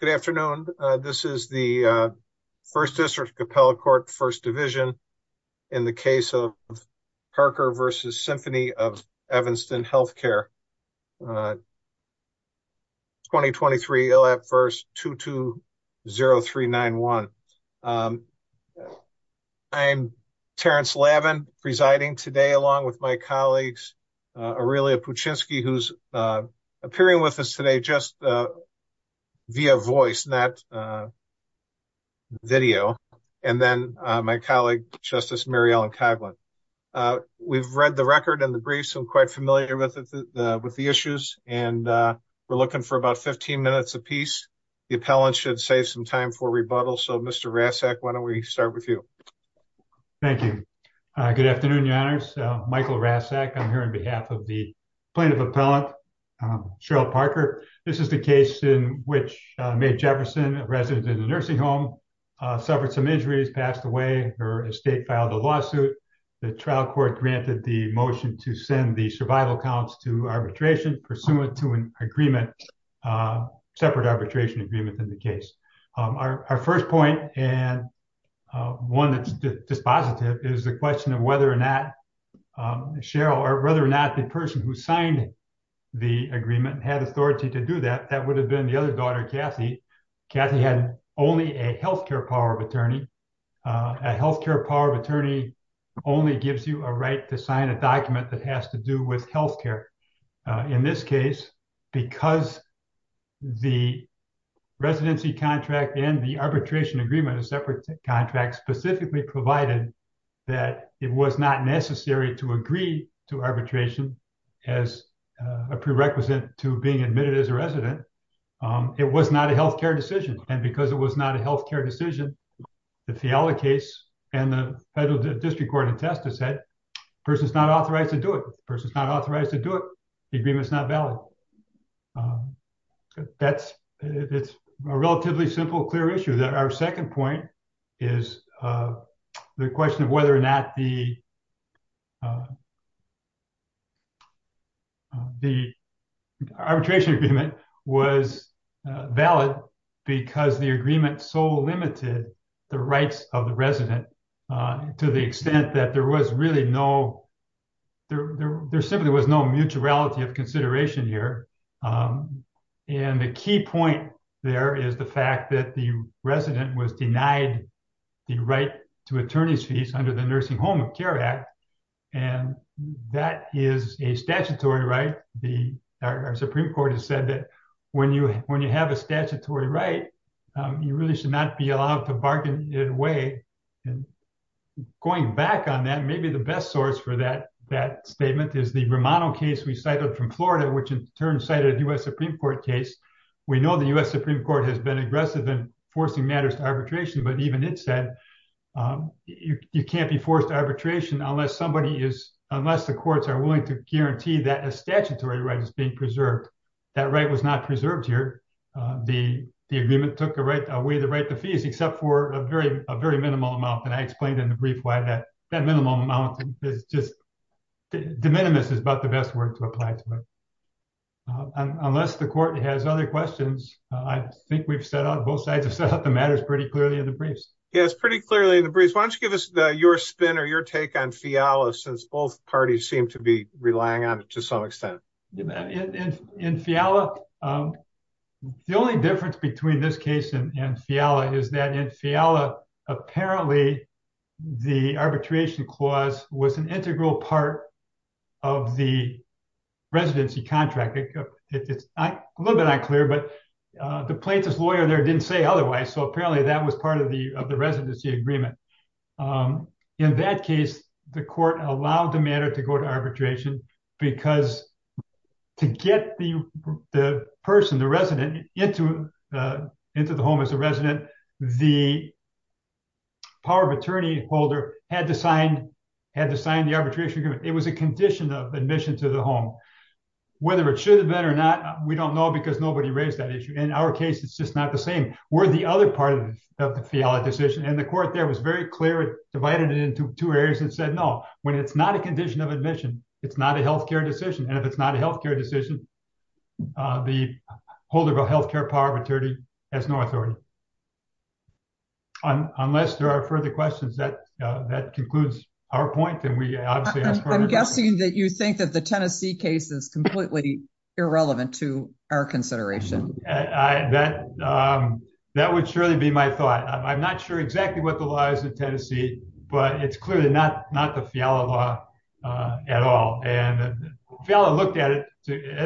Good afternoon. This is the 1st District Appellate Court, 1st Division, in the case of Parker v. Symphony of Evanston Healthcare, 2023 ILAP v. 220391. I'm Terrence Lavin, presiding today along with my colleagues Aurelia Puchinski, who's a voice in that video, and then my colleague, Justice Mary Ellen Coghlan. We've read the record and the brief, so I'm quite familiar with the issues, and we're looking for about 15 minutes apiece. The appellant should save some time for rebuttal, so Mr. Rassak, why don't we start with you? Thank you. Good afternoon, Your Honors. Michael Rassak. I'm here on behalf of the Mae Jefferson, a resident in the nursing home, suffered some injuries, passed away. Her estate filed a lawsuit. The trial court granted the motion to send the survival counts to arbitration pursuant to an agreement, separate arbitration agreement in the case. Our first point, and one that's dispositive, is the question of whether or not Cheryl, or whether or not the person who Cathy, had only a health care power of attorney. A health care power of attorney only gives you a right to sign a document that has to do with health care. In this case, because the residency contract and the arbitration agreement, a separate contract, specifically provided that it was not necessary to agree to arbitration as a prerequisite to being admitted as a resident, it was not a health care decision. And because it was not a health care decision, the Fiala case and the federal district court in Testa said, the person's not authorized to do it. The person's not authorized to do it. The agreement's not valid. That's, it's a relatively simple, clear issue that our second point is the question of whether or not the arbitration agreement was valid because the agreement so limited the rights of the resident to the extent that there was really no, there simply was no mutuality of consideration here. And the key point there is the fact that the the right to attorney's fees under the nursing home of care act. And that is a statutory right. The Supreme court has said that when you, when you have a statutory right, you really should not be allowed to bargain in a way. And going back on that, maybe the best source for that, that statement is the Romano case we cited from Florida, which in turn cited a U.S. Supreme court case. We know the U.S. Supreme court has been aggressive in forcing matters to arbitration, but even it said you can't be forced to arbitration unless somebody is, unless the courts are willing to guarantee that a statutory right is being preserved. That right was not preserved here. The, the agreement took the right away, the right to fees, except for a very, a very minimal amount. And I explained in the brief why that that minimum amount is just de minimis is about the best word to apply to it. Unless the court has other questions, I think we've set out both sides of the matter is pretty clearly in the briefs. Yeah, it's pretty clearly in the briefs. Why don't you give us your spin or your take on Fiala since both parties seem to be relying on it to some extent. In Fiala, the only difference between this case and Fiala is that in Fiala, apparently the arbitration clause was an integral part of the residency contract. It's a little bit unclear, but the plaintiff's lawyer there didn't say otherwise. So apparently that was part of the, of the residency agreement. In that case, the court allowed the matter to go to arbitration because to get the person, the resident into, into the home as a resident, the power of attorney holder had to sign, had to sign the arbitration agreement. It was a condition of admission to the home, whether it should have been or not. We don't know because nobody raised that issue. In our case, it's just not the same. We're the other part of the Fiala decision. And the court there was very clear. It divided it into two areas and said, no, when it's not a health care decision, and if it's not a health care decision, the holder of a health care power of attorney has no authority. Unless there are further questions that, that concludes our point, then we obviously ask further questions. I'm guessing that you think that the Tennessee case is completely irrelevant to our consideration. That, that would surely be my thought. I'm not sure exactly what the law is in Tennessee, but it's clearly not the Fiala law at all. And Fiala looked at it,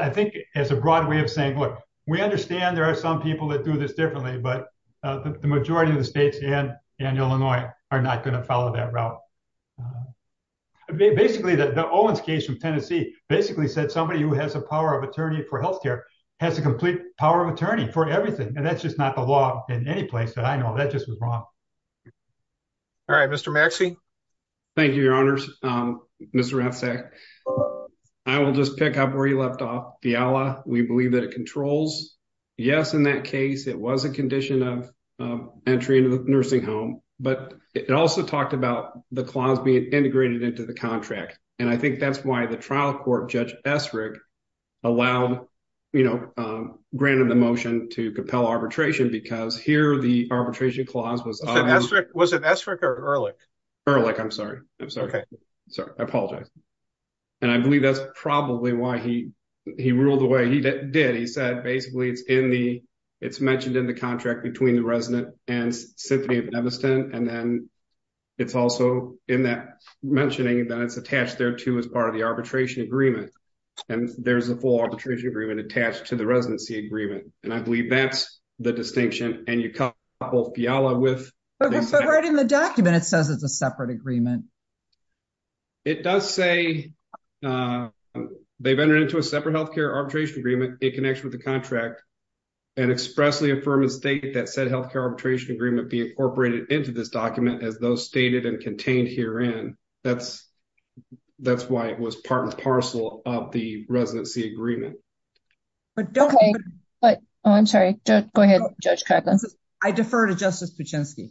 I think as a broad way of saying, look, we understand there are some people that do this differently, but the majority of the states and, and Illinois are not going to follow that route. Basically the Owens case from Tennessee basically said somebody who has a power of attorney for health care has a complete power of attorney for everything. And that's just not the law in any place that I know that just was wrong. All right, Mr. Maxey. Thank you, your I will just pick up where you left off. Fiala, we believe that it controls. Yes, in that case, it was a condition of entry into the nursing home, but it also talked about the clause being integrated into the contract. And I think that's why the trial court judge Esrich allowed, you know, granted the motion to compel arbitration because here the arbitration clause was... Was it Esrich or Ehrlich? Ehrlich. I'm sorry. I'm sorry. I'm sorry. I apologize. And I believe that's probably why he, he ruled the way he did. He said, basically it's in the, it's mentioned in the contract between the resident and Symphony of Devastant. And then it's also in that mentioning that it's attached there too, as part of the arbitration agreement. And there's a full arbitration agreement attached to the residency agreement. And I believe that's the distinction and you separate agreement. It does say they've entered into a separate healthcare arbitration agreement in connection with the contract and expressly affirm a state that said healthcare arbitration agreement be incorporated into this document as those stated and contained herein. That's, that's why it was part and parcel of the residency agreement. But don't... Okay, but I'm sorry. Go ahead, Judge Craig. I defer to Justice Pachinski.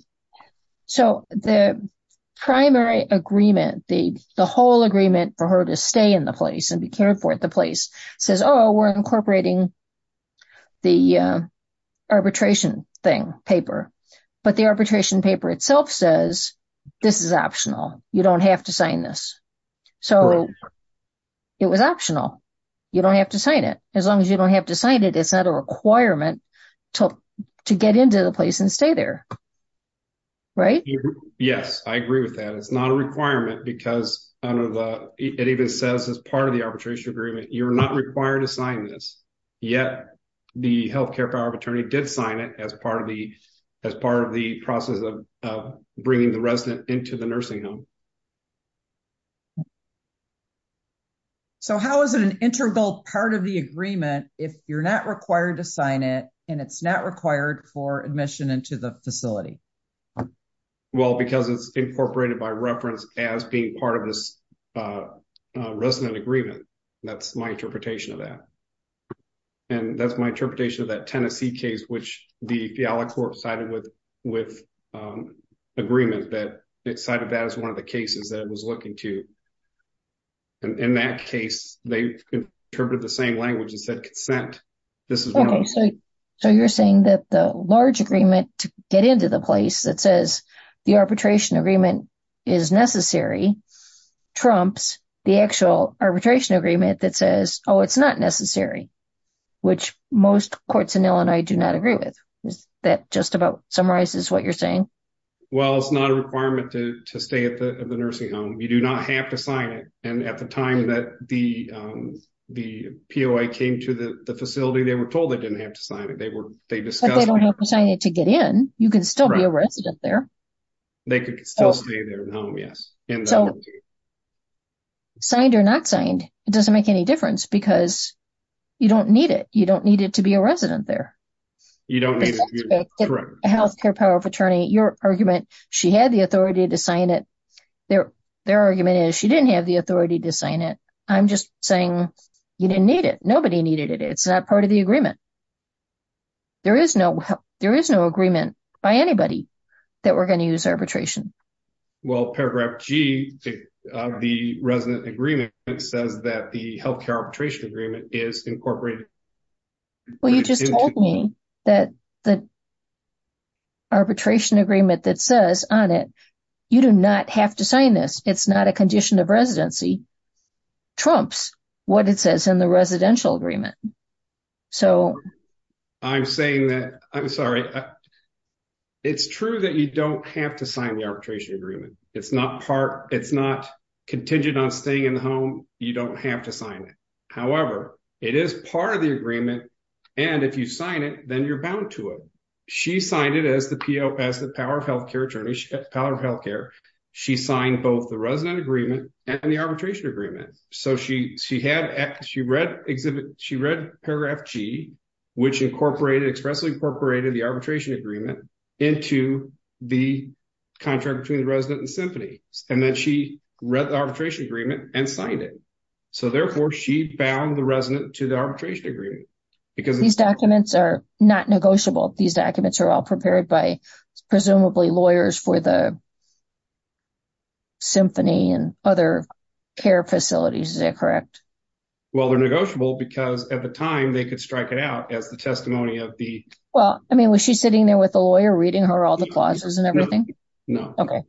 So the primary agreement, the whole agreement for her to stay in the place and be cared for at the place says, oh, we're incorporating the arbitration thing, paper. But the arbitration paper itself says, this is optional. You don't have to sign this. So it was optional. You don't have to sign it. As long as you don't have to sign it, it's not a requirement to get into the there. Right? Yes, I agree with that. It's not a requirement because it even says as part of the arbitration agreement, you're not required to sign this. Yet the healthcare power of attorney did sign it as part of the process of bringing the resident into the nursing home. So how is it an integral part of the agreement if you're not required to sign it and it's not in the facility? Well, because it's incorporated by reference as being part of this resident agreement. That's my interpretation of that. And that's my interpretation of that Tennessee case, which the Fiala court sided with agreement that it cited that as one of the cases that it was looking to. And in that case, they interpreted the same language and said consent. This is... So you're saying that the large agreement to get into the place that says the arbitration agreement is necessary, trumps the actual arbitration agreement that says, oh, it's not necessary, which most courts in Illinois do not agree with. Is that just about summarizes what you're saying? Well, it's not a requirement to stay at the nursing home. You do not have to sign it. And at the time that the POI came to the facility, they were told they didn't have to sign it. They discussed... But they don't have to sign it to get in. You can still be a resident there. They could still stay there in the home, yes. So signed or not signed, it doesn't make any difference because you don't need it. You don't need it to be a resident there. You don't need it to be a resident, correct. The healthcare power of attorney, your argument, she had the authority to sign it. Their argument is she didn't have the authority to sign it. I'm just saying you didn't need it. Nobody needed it. It's not part of the agreement. There is no agreement by anybody that we're going to use arbitration. Well, paragraph G of the resident agreement says that the healthcare arbitration agreement is incorporated. Well, you just told me that the arbitration agreement that says on it, you do not have to sign this. It's not a condition of residency, trumps what it says in the residential agreement. So... I'm saying that... I'm sorry. It's true that you don't have to sign the arbitration agreement. It's not part... It's contingent on staying in the home. You don't have to sign it. However, it is part of the agreement. And if you sign it, then you're bound to it. She signed it as the PO, as the power of healthcare attorney, power of healthcare. She signed both the resident agreement and the arbitration agreement. So she had... She read exhibit... She read paragraph G, which incorporated expressly incorporated the arbitration agreement into the contract between the resident and symphony. And then she read the arbitration agreement and signed it. So therefore she bound the resident to the arbitration agreement because... These documents are not negotiable. These documents are all prepared by presumably lawyers for the symphony and other care facilities. Is that correct? Well, they're negotiable because at the time they could strike it out as the testimony of the... Well, I mean, was she sitting there with a lawyer reading her all the clauses and everything? No. Okay.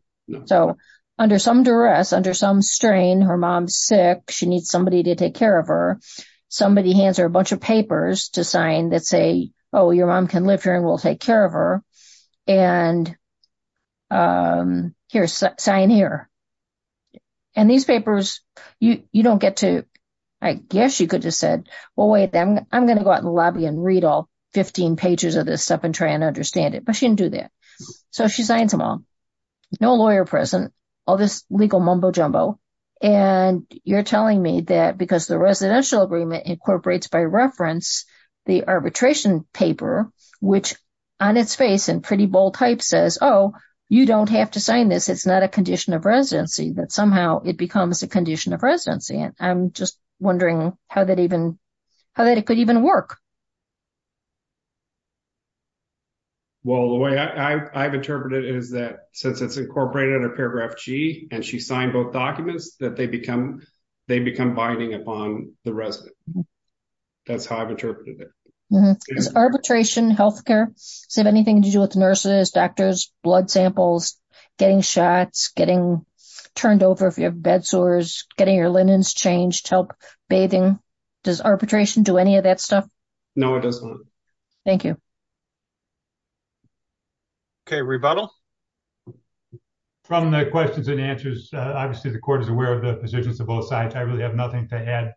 So under some duress, under some strain, her mom's sick. She needs somebody to take care of her. Somebody hands her a bunch of papers to sign that say, oh, your mom can live here and we'll take care of her. And here, sign here. And these papers, you don't get to... I guess you could have said, well, wait, I'm going to go out and lobby and she signs them all. No lawyer present, all this legal mumbo jumbo. And you're telling me that because the residential agreement incorporates by reference, the arbitration paper, which on its face and pretty bold type says, oh, you don't have to sign this. It's not a condition of residency, that somehow it becomes a condition of residency. And I'm just wondering how that even... How that interpreted is that since it's incorporated under paragraph G and she signed both documents that they become binding upon the resident. That's how I've interpreted it. Is arbitration healthcare? Does it have anything to do with nurses, doctors, blood samples, getting shots, getting turned over if you have bed sores, getting your linens changed, help bathing. Does arbitration do any of that rebuttal? From the questions and answers, obviously the court is aware of the positions of both sides. I really have nothing to add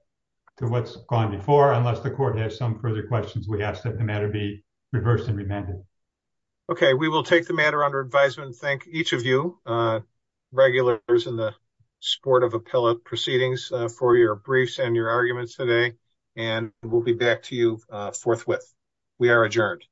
to what's gone before, unless the court has some further questions, we ask that the matter be reversed and remanded. Okay. We will take the matter under advisement. Thank each of you, regulars in the sport of appellate proceedings for your briefs and your arguments today. And we'll be back to you forthwith. We are adjourned.